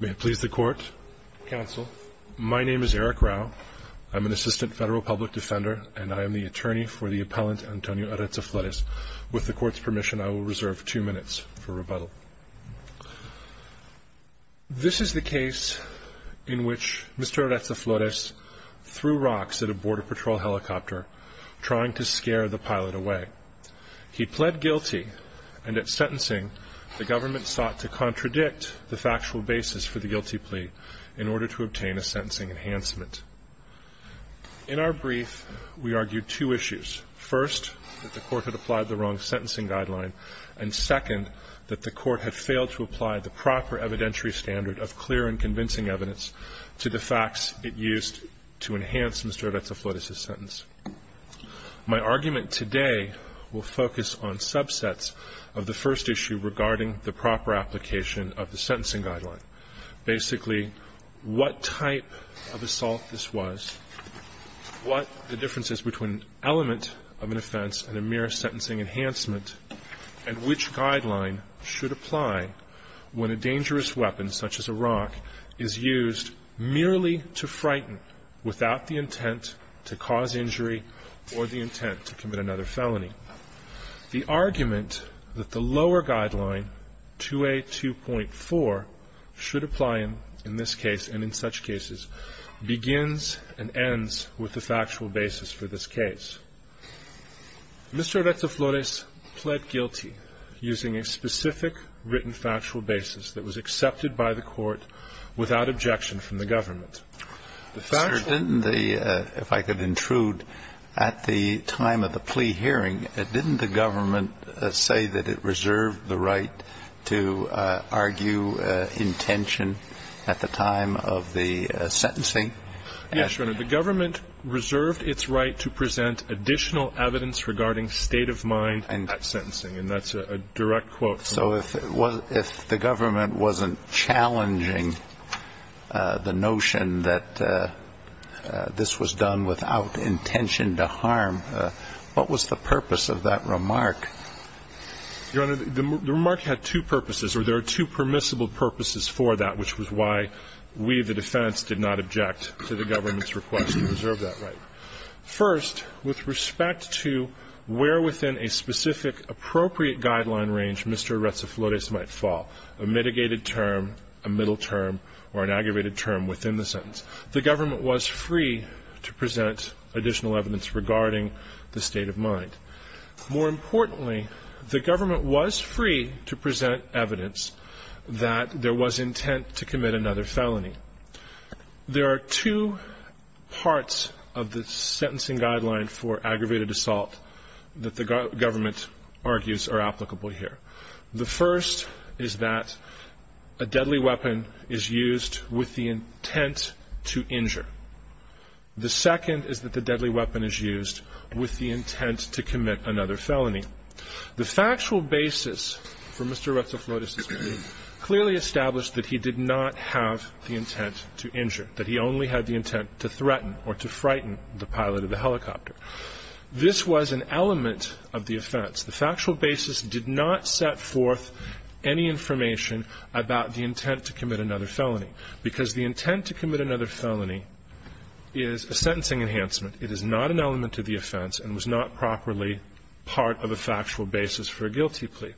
May it please the Court, Counsel. My name is Eric Rau. I'm an Assistant Federal Public Defender, and I am the attorney for the appellant Antonio Eretza-Flores. With the Court's permission, I will reserve two minutes for rebuttal. This is the case in which Mr. Eretza-Flores threw rocks at a Border Patrol helicopter, trying to scare the pilot away. He pled guilty, and at sentencing, the government sought to contradict the factual basis for the guilty plea in order to obtain a sentencing enhancement. In our brief, we argued two issues. First, that the Court had applied the wrong sentencing guideline. And second, that the Court had failed to apply the proper evidentiary standard of clear and convincing evidence to the facts it used to enhance Mr. Eretza-Flores' sentence. My argument today will focus on subsets of the first issue regarding the proper application of the sentencing guideline. Basically, what type of assault this was, what the differences between an element of an offense and a mere sentencing enhancement, and which guideline should apply when a dangerous weapon, such as a rock, is used merely to frighten without the intent to cause injury or the intent to commit another felony. The argument that the lower guideline, 2A2.4, should apply in this case and in such cases, begins and ends with the factual basis for this case. Mr. Eretza-Flores pled guilty using a specific written factual basis that was accepted by the Court without objection from the government. The factual basis... Mr. Didn't the, if I could intrude, at the time of the plea hearing, didn't the government say that it reserved the right to argue intention at the time of the sentencing? Yes, Your Honor. The government reserved its right to present additional evidence regarding state of mind at sentencing, and that's a direct quote. So if the government wasn't challenging the notion that this was done without intention to harm, what was the purpose of that remark? Your Honor, the remark had two purposes, or there are two permissible purposes for that, which was why we, the defense, did not object to the government's request to reserve that right. First, with respect to where within a specific appropriate guideline range Mr. Eretza-Flores might fall, a mitigated term, a middle term, or an aggravated term within the sentence, the government was free to present additional evidence regarding the state of mind. More importantly, the government was free to present evidence that there was intent to commit another felony. There are two parts of the sentencing guideline for aggravated assault that the government argues are applicable here. The first is that a deadly weapon is used with the intent to injure. The second is that the deadly weapon is used with the intent to commit another felony. The factual basis for Mr. Eretza-Flores' plea clearly established that he did not have the intent to injure, that he only had the intent to threaten or to frighten the pilot of the helicopter. This was an element of the offense. The factual basis did not set forth any information about the intent to commit another felony, because the intent to commit another felony is a sentencing enhancement. It is not an element of the offense and was not properly part of a factual basis for a guilty plea.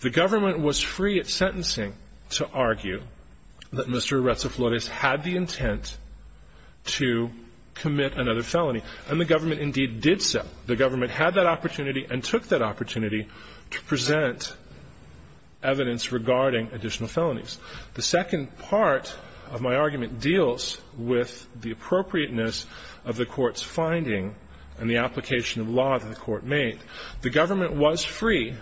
The government was free at sentencing to argue that Mr. Eretza-Flores had the intent to commit another felony, and the government indeed did so. The government had that opportunity and took that opportunity to present evidence regarding additional felonies. The second part of my argument deals with the appropriateness of the Court's finding and the application of law that the Court made. The government was free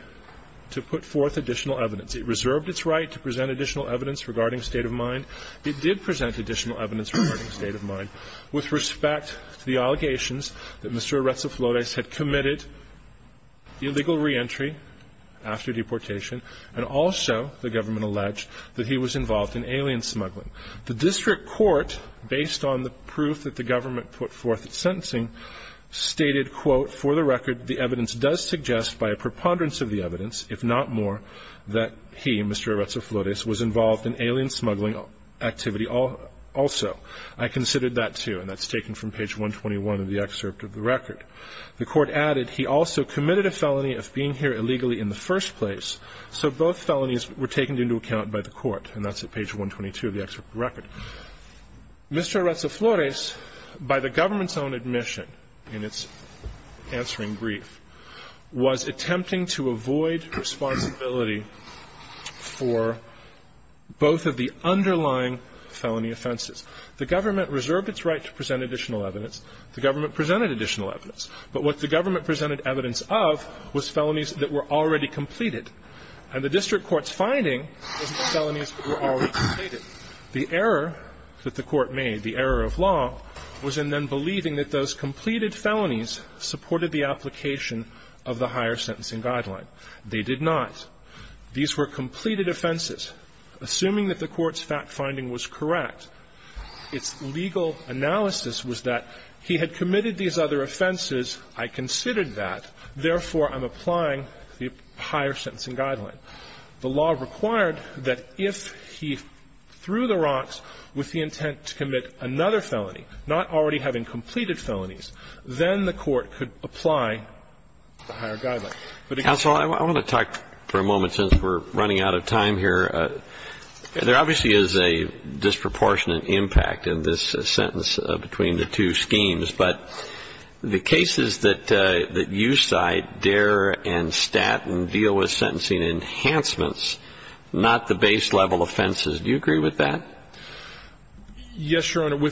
to put forth additional evidence. It reserved its right to present additional evidence regarding state of mind. It did present additional evidence regarding state of mind with respect to the allegations that Mr. Eretza-Flores had committed illegal reentry after deportation, and also the government alleged that he was involved in alien smuggling. The district court, based on the proof that the government put forth at sentencing, stated, quote, For the record, the evidence does suggest by a preponderance of the evidence, if not more, that he, Mr. Eretza-Flores, was involved in alien smuggling activity also. I considered that, too. And that's taken from page 121 of the excerpt of the record. The Court added, He also committed a felony of being here illegally in the first place. So both felonies were taken into account by the Court. And that's at page 122 of the excerpt of the record. Mr. Eretza-Flores, by the government's own admission in its answering brief, was attempting to avoid responsibility for both of the underlying felony offenses. The government reserved its right to present additional evidence. The government presented additional evidence. But what the government presented evidence of was felonies that were already completed. And the district court's finding was that felonies were already completed. The error that the Court made, the error of law, was in then believing that those completed felonies supported the application of the higher sentencing guideline. They did not. These were completed offenses. Assuming that the Court's fact-finding was correct, its legal analysis was that he had committed these other offenses, I considered that. Therefore, I'm applying the higher sentencing guideline. The law required that if he threw the rocks with the intent to commit another felony, not already having completed felonies, then the Court could apply the higher guideline. But again ---- Roberts, I want to talk for a moment, since we're running out of time here. There obviously is a disproportionate impact in this sentence between the two schemes. But the cases that you cite, Dare and Statton, deal with sentencing enhancements, not the base-level offenses. Do you agree with that? Yes, Your Honor.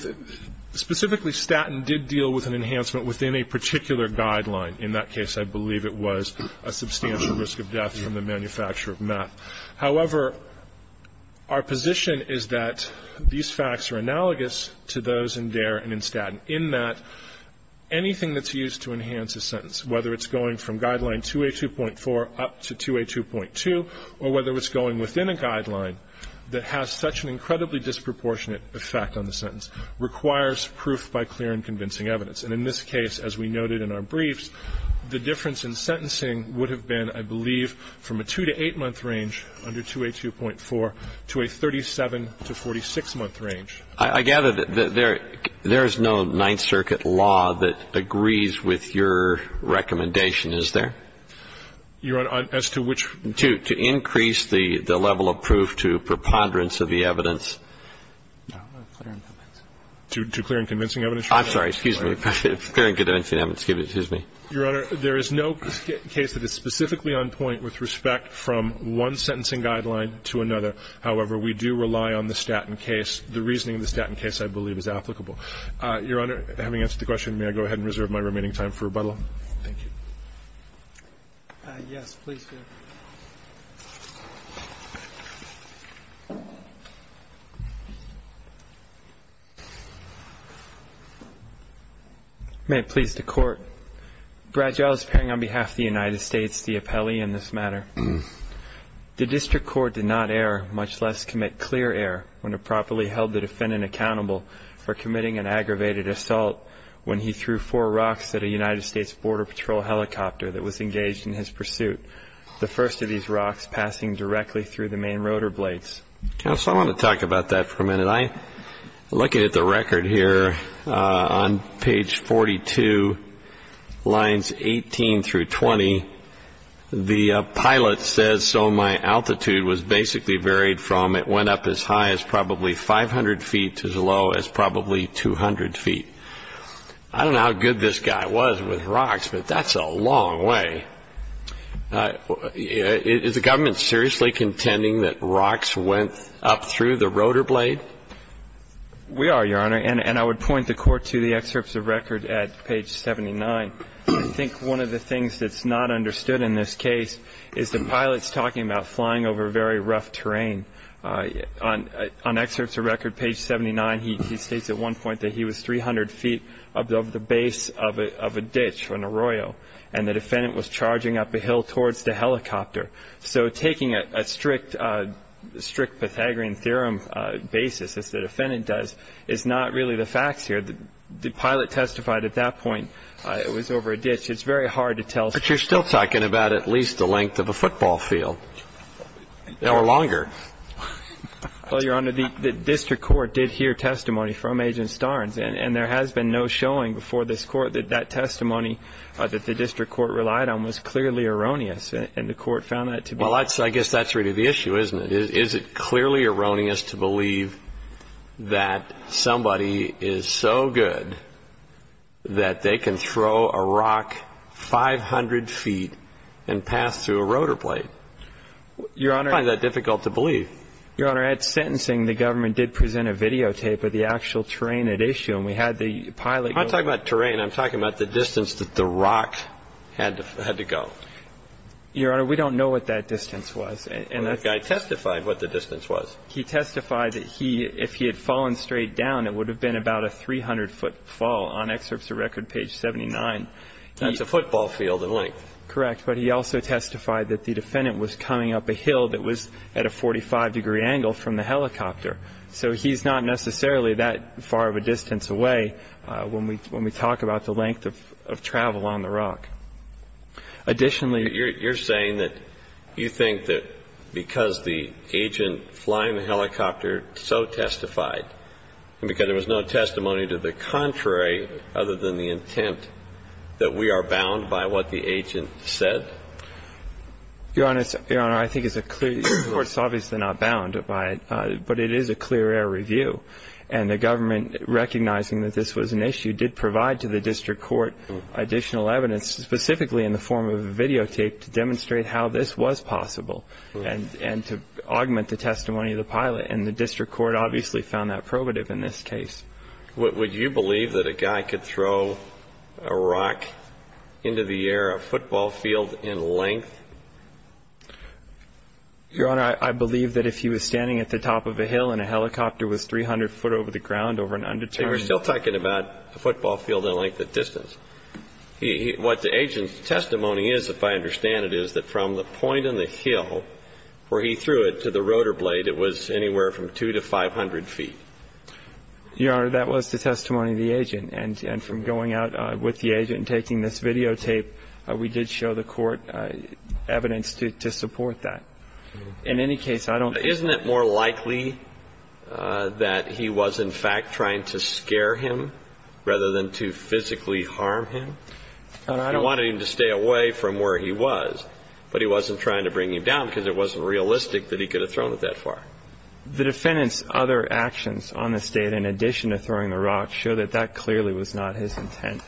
Specifically, Statton did deal with an enhancement within a particular guideline. In that case, I believe it was a substantial risk of death from the manufacture of meth. However, our position is that these facts are analogous to those in Dare and in Statton, in that anything that's used to enhance a sentence, whether it's going from Guideline 282.4 up to 282.2, or whether it's going within a guideline that has such an incredibly disproportionate effect on the sentence, requires proof by clear and convincing evidence. And in this case, as we noted in our briefs, the difference in sentencing would have been, I believe, from a two-to-eight-month range under 282.4 to a 37-to-46-month range. I gather that there is no Ninth Circuit law that agrees with your recommendation, is there? Your Honor, as to which? To increase the level of proof to preponderance of the evidence. To clear and convincing evidence? I'm sorry. Excuse me. Clear and convincing evidence. Excuse me. Your Honor, there is no case that is specifically on point with respect from one sentencing guideline to another. However, we do rely on the Statton case. The reasoning of the Statton case, I believe, is applicable. Your Honor, having answered the question, may I go ahead and reserve my remaining time for rebuttal? Thank you. Yes, please, sir. May it please the Court. Brad Giles, appearing on behalf of the United States, the appellee in this matter. The District Court did not err, much less commit clear error, when it properly held the defendant accountable for committing an aggravated assault when he threw four rocks at a United States Border Patrol helicopter that was engaged in his pursuit. The first of these rocks passing directly through the main rotor blades. Counsel, I want to talk about that for a minute. I'm looking at the record here on page 42, lines 18 through 20. The pilot says, so my altitude was basically varied from it went up as high as probably 500 feet to as low as probably 200 feet. I don't know how good this guy was with rocks, but that's a long way. Is the government seriously contending that rocks went up through the rotor blade? We are, Your Honor. And I would point the Court to the excerpts of record at page 79. I think one of the things that's not understood in this case is the pilot's talking about flying over very rough terrain. On excerpts of record, page 79, he states at one point that he was 300 feet above the base of a ditch, an arroyo. And the defendant was charging up a hill towards the helicopter. So taking a strict Pythagorean theorem basis, as the defendant does, is not really the facts here. The pilot testified at that point it was over a ditch. It's very hard to tell. But you're still talking about at least the length of a football field or longer. Well, Your Honor, the district court did hear testimony from Agent Starnes, and there has been no showing before this Court that that testimony that the district court relied on was clearly erroneous, and the Court found that to be true. Well, I guess that's really the issue, isn't it? Is it clearly erroneous to believe that somebody is so good that they can throw a rock 500 feet and pass through a rotor blade? I find that difficult to believe. Your Honor, at sentencing, the government did present a videotape of the actual terrain at issue, and we had the pilot go over it. I'm not talking about terrain. I'm talking about the distance that the rock had to go. Your Honor, we don't know what that distance was. The guy testified what the distance was. He testified that if he had fallen straight down, it would have been about a 300-foot fall. On excerpts of record, page 79. That's a football field in length. Correct. But he also testified that the defendant was coming up a hill that was at a 45-degree angle from the helicopter. So he's not necessarily that far of a distance away when we talk about the length of travel on the rock. Additionally you're saying that you think that because the agent flying the helicopter so testified and because there was no testimony to the contrary other than the intent that we are bound by what the agent said? Your Honor, I think it's a clear – your court's obviously not bound by it, but it is a clear air review. And the government, recognizing that this was an issue, did provide to the district court additional evidence specifically in the form of a videotape to demonstrate how this was possible and to augment the testimony of the pilot. And the district court obviously found that probative in this case. Would you believe that a guy could throw a rock into the air, a football field in length? Your Honor, I believe that if he was standing at the top of a hill and a helicopter was 300 foot over the ground over an undetermined – We're still talking about a football field in length of distance. What the agent's testimony is, if I understand it, is that from the point on the hill where he threw it to the rotor blade, it was anywhere from 200 to 500 feet. Your Honor, that was the testimony of the agent. And from going out with the agent and taking this videotape, we did show the court evidence to support that. In any case, I don't – Isn't it more likely that he was, in fact, trying to scare him rather than to physically harm him? Your Honor, I don't – You wanted him to stay away from where he was, but he wasn't trying to bring him down because it wasn't realistic that he could have thrown it that far. The defendant's other actions on this date, in addition to throwing the rock, show that that clearly was not his intent.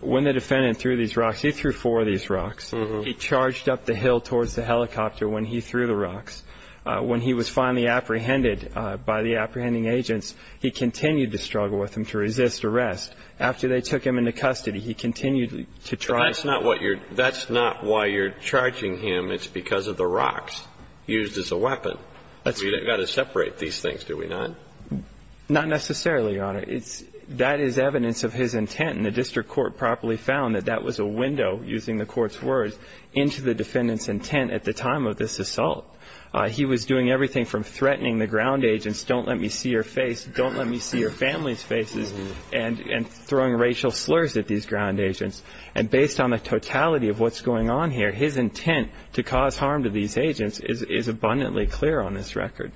When the defendant threw these rocks, he threw four of these rocks. He charged up the hill towards the helicopter when he threw the rocks. When he was finally apprehended by the apprehending agents, he continued to struggle with them to resist arrest. After they took him into custody, he continued to try – That's not why you're charging him. It's because of the rocks used as a weapon. We've got to separate these things, do we not? Not necessarily, Your Honor. That is evidence of his intent, and the district court properly found that that was a window, using the court's words, into the defendant's intent at the time of this assault. He was doing everything from threatening the ground agents, don't let me see your face, don't let me see your family's faces, and throwing racial slurs at these ground agents. And based on the totality of what's going on here, his intent to cause harm to these agents is abundantly clear on this record.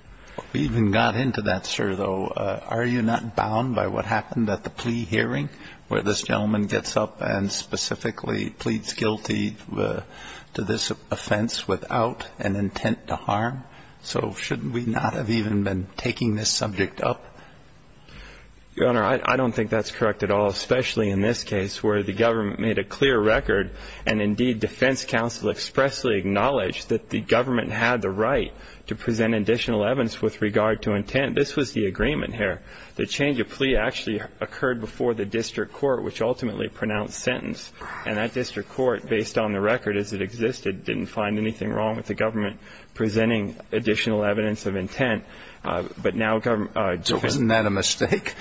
We even got into that, sir, though. Are you not bound by what happened at the plea hearing, where this gentleman gets up and specifically pleads guilty to this offense without an intent to harm? So shouldn't we not have even been taking this subject up? Your Honor, I don't think that's correct at all, especially in this case where the government made a clear record and indeed defense counsel expressly acknowledged that the government had the right to present additional evidence with regard to intent. This was the agreement here. The change of plea actually occurred before the district court, which ultimately pronounced sentence. And that district court, based on the record as it existed, didn't find anything wrong with the government presenting additional evidence of intent. But now government defends it. So isn't that a mistake?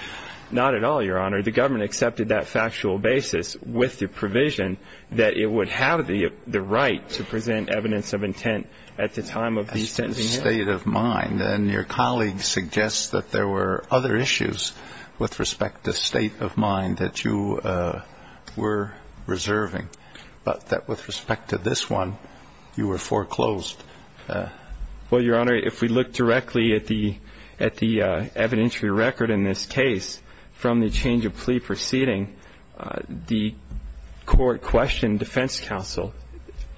Not at all, Your Honor. The government accepted that factual basis with the provision that it would have the right to present evidence of intent at the time of the sentencing. State of mind. And your colleague suggests that there were other issues with respect to state of mind that you were reserving, but that with respect to this one, you were foreclosed. Well, Your Honor, if we look directly at the evidentiary record in this case from the change of plea proceeding, the court questioned defense counsel.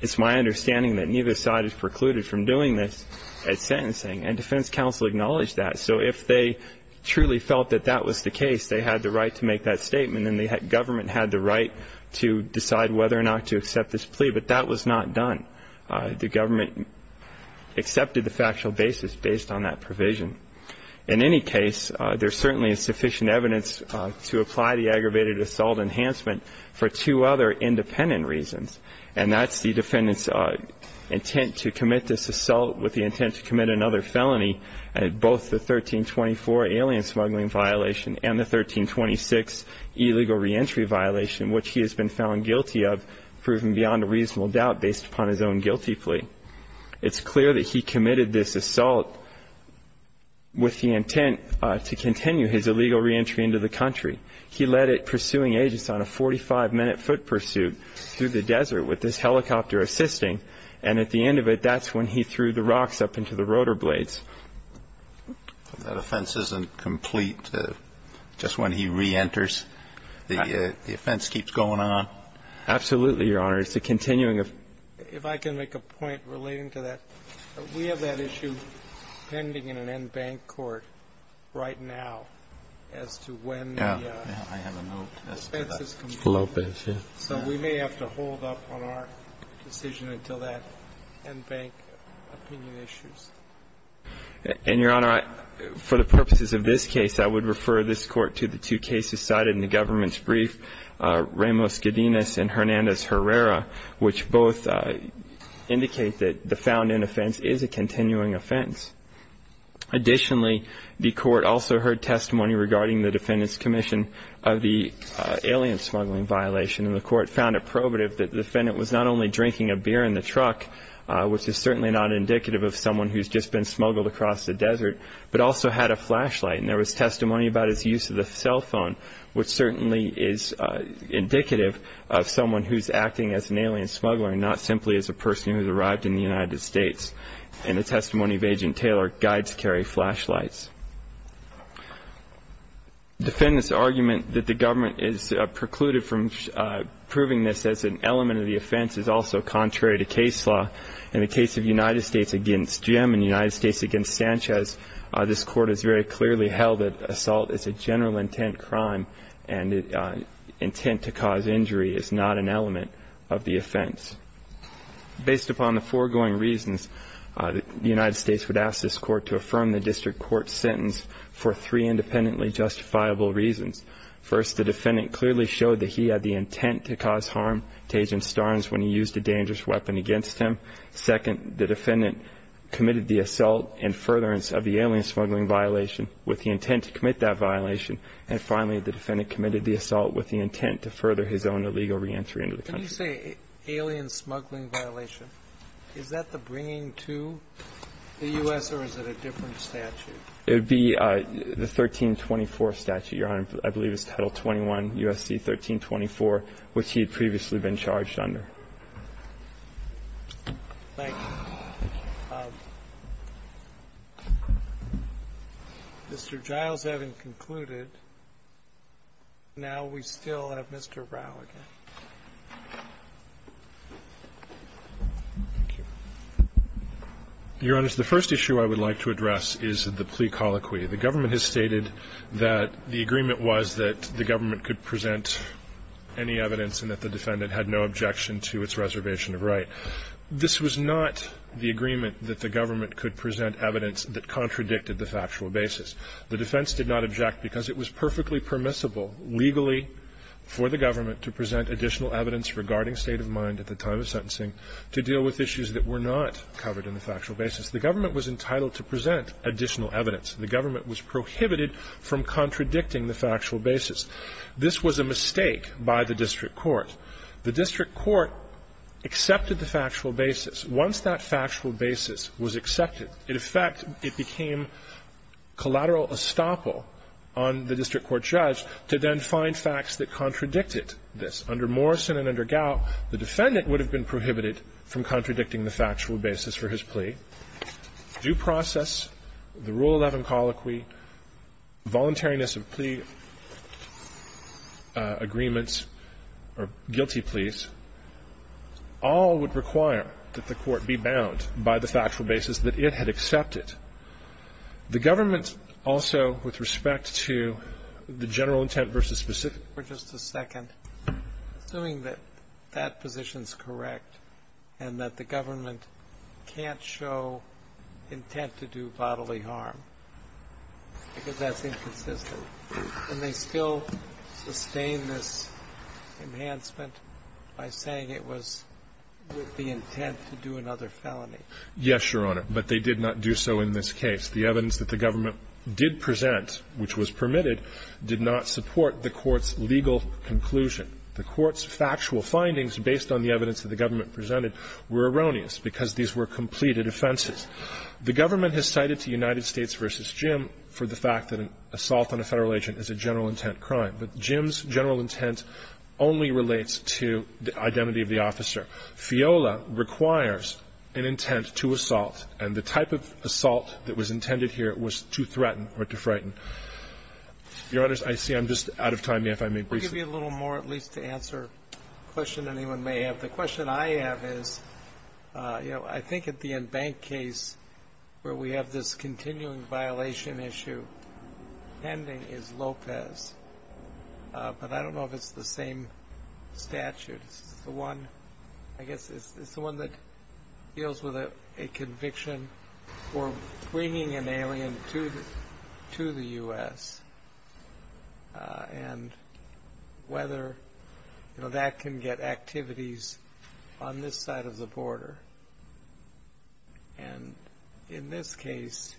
It's my understanding that neither side is precluded from doing this at sentencing, and defense counsel acknowledged that. So if they truly felt that that was the case, they had the right to make that statement, and the government had the right to decide whether or not to accept this plea. But that was not done. The government accepted the factual basis based on that provision. In any case, there's certainly sufficient evidence to apply the aggravated assault enhancement for two other independent reasons, and that's the defendant's intent to commit this assault with the intent to commit another felony, both the 1324 alien smuggling violation and the 1326 illegal reentry violation, which he has been found guilty of, proven beyond a reasonable doubt based upon his own guilty plea. It's clear that he committed this assault with the intent to continue his illegal reentry into the country. He led it, pursuing agents on a 45-minute foot pursuit through the desert with his helicopter assisting, and at the end of it, that's when he threw the rocks up into the rotor blades. That offense isn't complete just when he reenters? The offense keeps going on? Absolutely, Your Honor. It's a continuing offense. If I can make a point relating to that. We have that issue pending in an en banc court right now as to when the offense is complete. Yeah. So we may have to hold up on our decision until that en banc opinion issues. And, Your Honor, for the purposes of this case, I would refer this court to the two cases cited in the government's brief, Ramos-Gedinas and Hernandez-Herrera, which both indicate that the found in offense is a continuing offense. Additionally, the court also heard testimony regarding the defendant's commission of the alien smuggling violation, and the court found it probative that the defendant was not only drinking a beer in the truck, which is certainly not indicative of someone who has just been smuggled across the desert, but also had a flashlight. And there was testimony about his use of the cell phone, which certainly is indicative of someone who is acting as an alien smuggler and not simply as a person who has arrived in the United States. And the testimony of Agent Taylor guides carry flashlights. The defendant's argument that the government is precluded from proving this as an element of the offense is also contrary to case law. In the case of United States v. Jim and United States v. Sanchez, this court has very clearly held that assault is a general intent crime and intent to cause injury is not an element of the offense. Based upon the foregoing reasons, the United States would ask this court to affirm the district court's sentence for three independently justifiable reasons. First, the defendant clearly showed that he had the intent to cause harm to Agent Starnes when he used a dangerous weapon against him. Second, the defendant committed the assault and furtherance of the alien smuggling violation with the intent to commit that violation. And finally, the defendant committed the assault with the intent to further his own illegal reentry into the country. Can you say alien smuggling violation? Is that the bringing to the U.S. or is it a different statute? It would be the 1324 statute, Your Honor, I believe it's Title 21 U.S.C. 1324, which he had previously been charged under. Thank you. Mr. Giles, having concluded, now we still have Mr. Rao again. Thank you. Your Honor, the first issue I would like to address is the plea colloquy. The government has stated that the agreement was that the government could present any evidence and that the defendant had no objection to its reservation of right. This was not the agreement that the government could present evidence that contradicted the factual basis. The defense did not object because it was perfectly permissible legally for the government to present additional evidence regarding state of mind at the time of sentencing to deal with issues that were not covered in the factual basis. The government was entitled to present additional evidence. The government was prohibited from contradicting the factual basis. This was a mistake by the district court. The district court accepted the factual basis. Once that factual basis was accepted, in effect, it became collateral estoppel on the district court judge to then find facts that contradicted this. Under Morrison and under Gao, the defendant would have been prohibited from contradicting the factual basis for his plea. Due process, the Rule 11 colloquy, voluntariness of plea agreements or guilty pleas all would require that the court be bound by the factual basis that it had accepted. The government also, with respect to the general intent versus specificity and that the government can't show intent to do bodily harm because that's inconsistent. Can they still sustain this enhancement by saying it was with the intent to do another felony? Yes, Your Honor. But they did not do so in this case. The evidence that the government did present, which was permitted, did not support the court's legal conclusion. The court's factual findings, based on the evidence that the government presented, were erroneous because these were completed offenses. The government has cited the United States v. Jim for the fact that an assault on a Federal agent is a general intent crime. But Jim's general intent only relates to the identity of the officer. FIOLA requires an intent to assault, and the type of assault that was intended here was to threaten or to frighten. Your Honors, I see I'm just out of time. May I, if I may, briefly? Maybe a little more at least to answer a question anyone may have. The question I have is, you know, I think at the Enbank case where we have this continuing violation issue pending is Lopez. But I don't know if it's the same statute. I guess it's the one that deals with a conviction for bringing an alien to the U.S. and whether that can get activities on this side of the border. And in this case,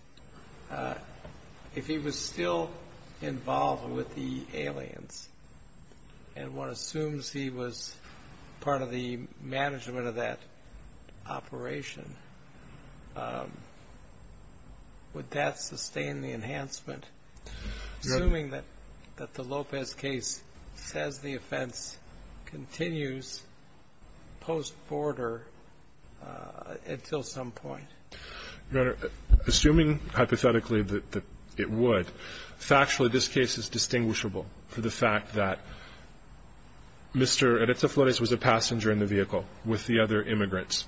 if he was still involved with the aliens and one assumes he was part of the management of that operation, would that sustain the enhancement? Assuming that the Lopez case says the offense continues post-border until some point. Your Honor, assuming hypothetically that it would, factually this case is distinguishable for the fact that Mr. Eretz Eflores was a passenger in the vehicle with the other immigrants.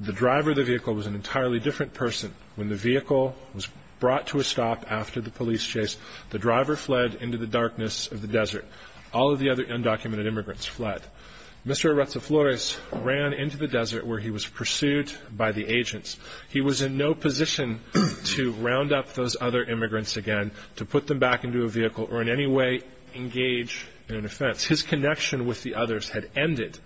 The driver of the vehicle was an entirely different person. When the vehicle was brought to a stop after the police chase, the driver fled into the darkness of the desert. All of the other undocumented immigrants fled. Mr. Eretz Eflores ran into the desert where he was pursued by the agents. He was in no position to round up those other immigrants again, to put them back into a vehicle or in any way engage in an offense. His connection with the others had ended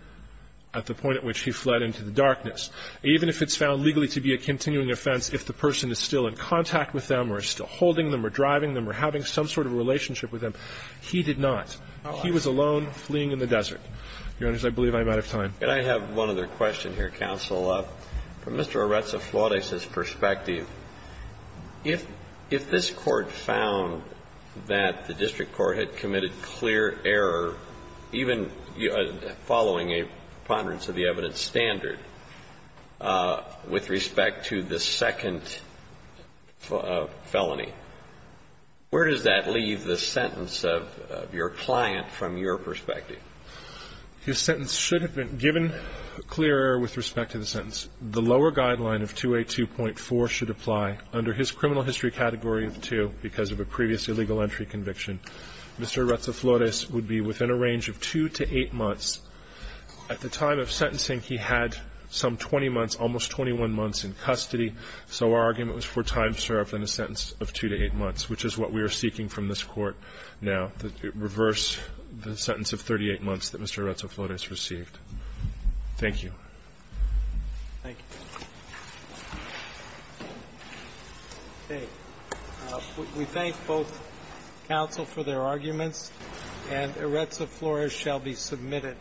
at the point at which he fled into the darkness. Even if it's found legally to be a continuing offense, if the person is still in contact with them or is still holding them or driving them or having some sort of relationship with them, he did not. He was alone, fleeing in the desert. Your Honors, I believe I'm out of time. And I have one other question here, counsel. From Mr. Eretz Eflores' perspective, if this Court found that the district court had committed clear error, even following a preponderance of the evidence standard with respect to the second felony, where does that leave the sentence of your client from your perspective? His sentence should have been given clear error with respect to the sentence. The lower guideline of 282.4 should apply under his criminal history category of 2 because of a previous illegal entry conviction. Mr. Eretz Eflores would be within a range of 2 to 8 months. At the time of sentencing, he had some 20 months, almost 21 months in custody, so our argument was for time served in a sentence of 2 to 8 months, which is what we are seeking from this Court now, to reverse the sentence of 38 months that Mr. Eretz Eflores received. Thank you. Thank you. Okay. We thank both counsel for their arguments, and Eretz Eflores shall be submitted.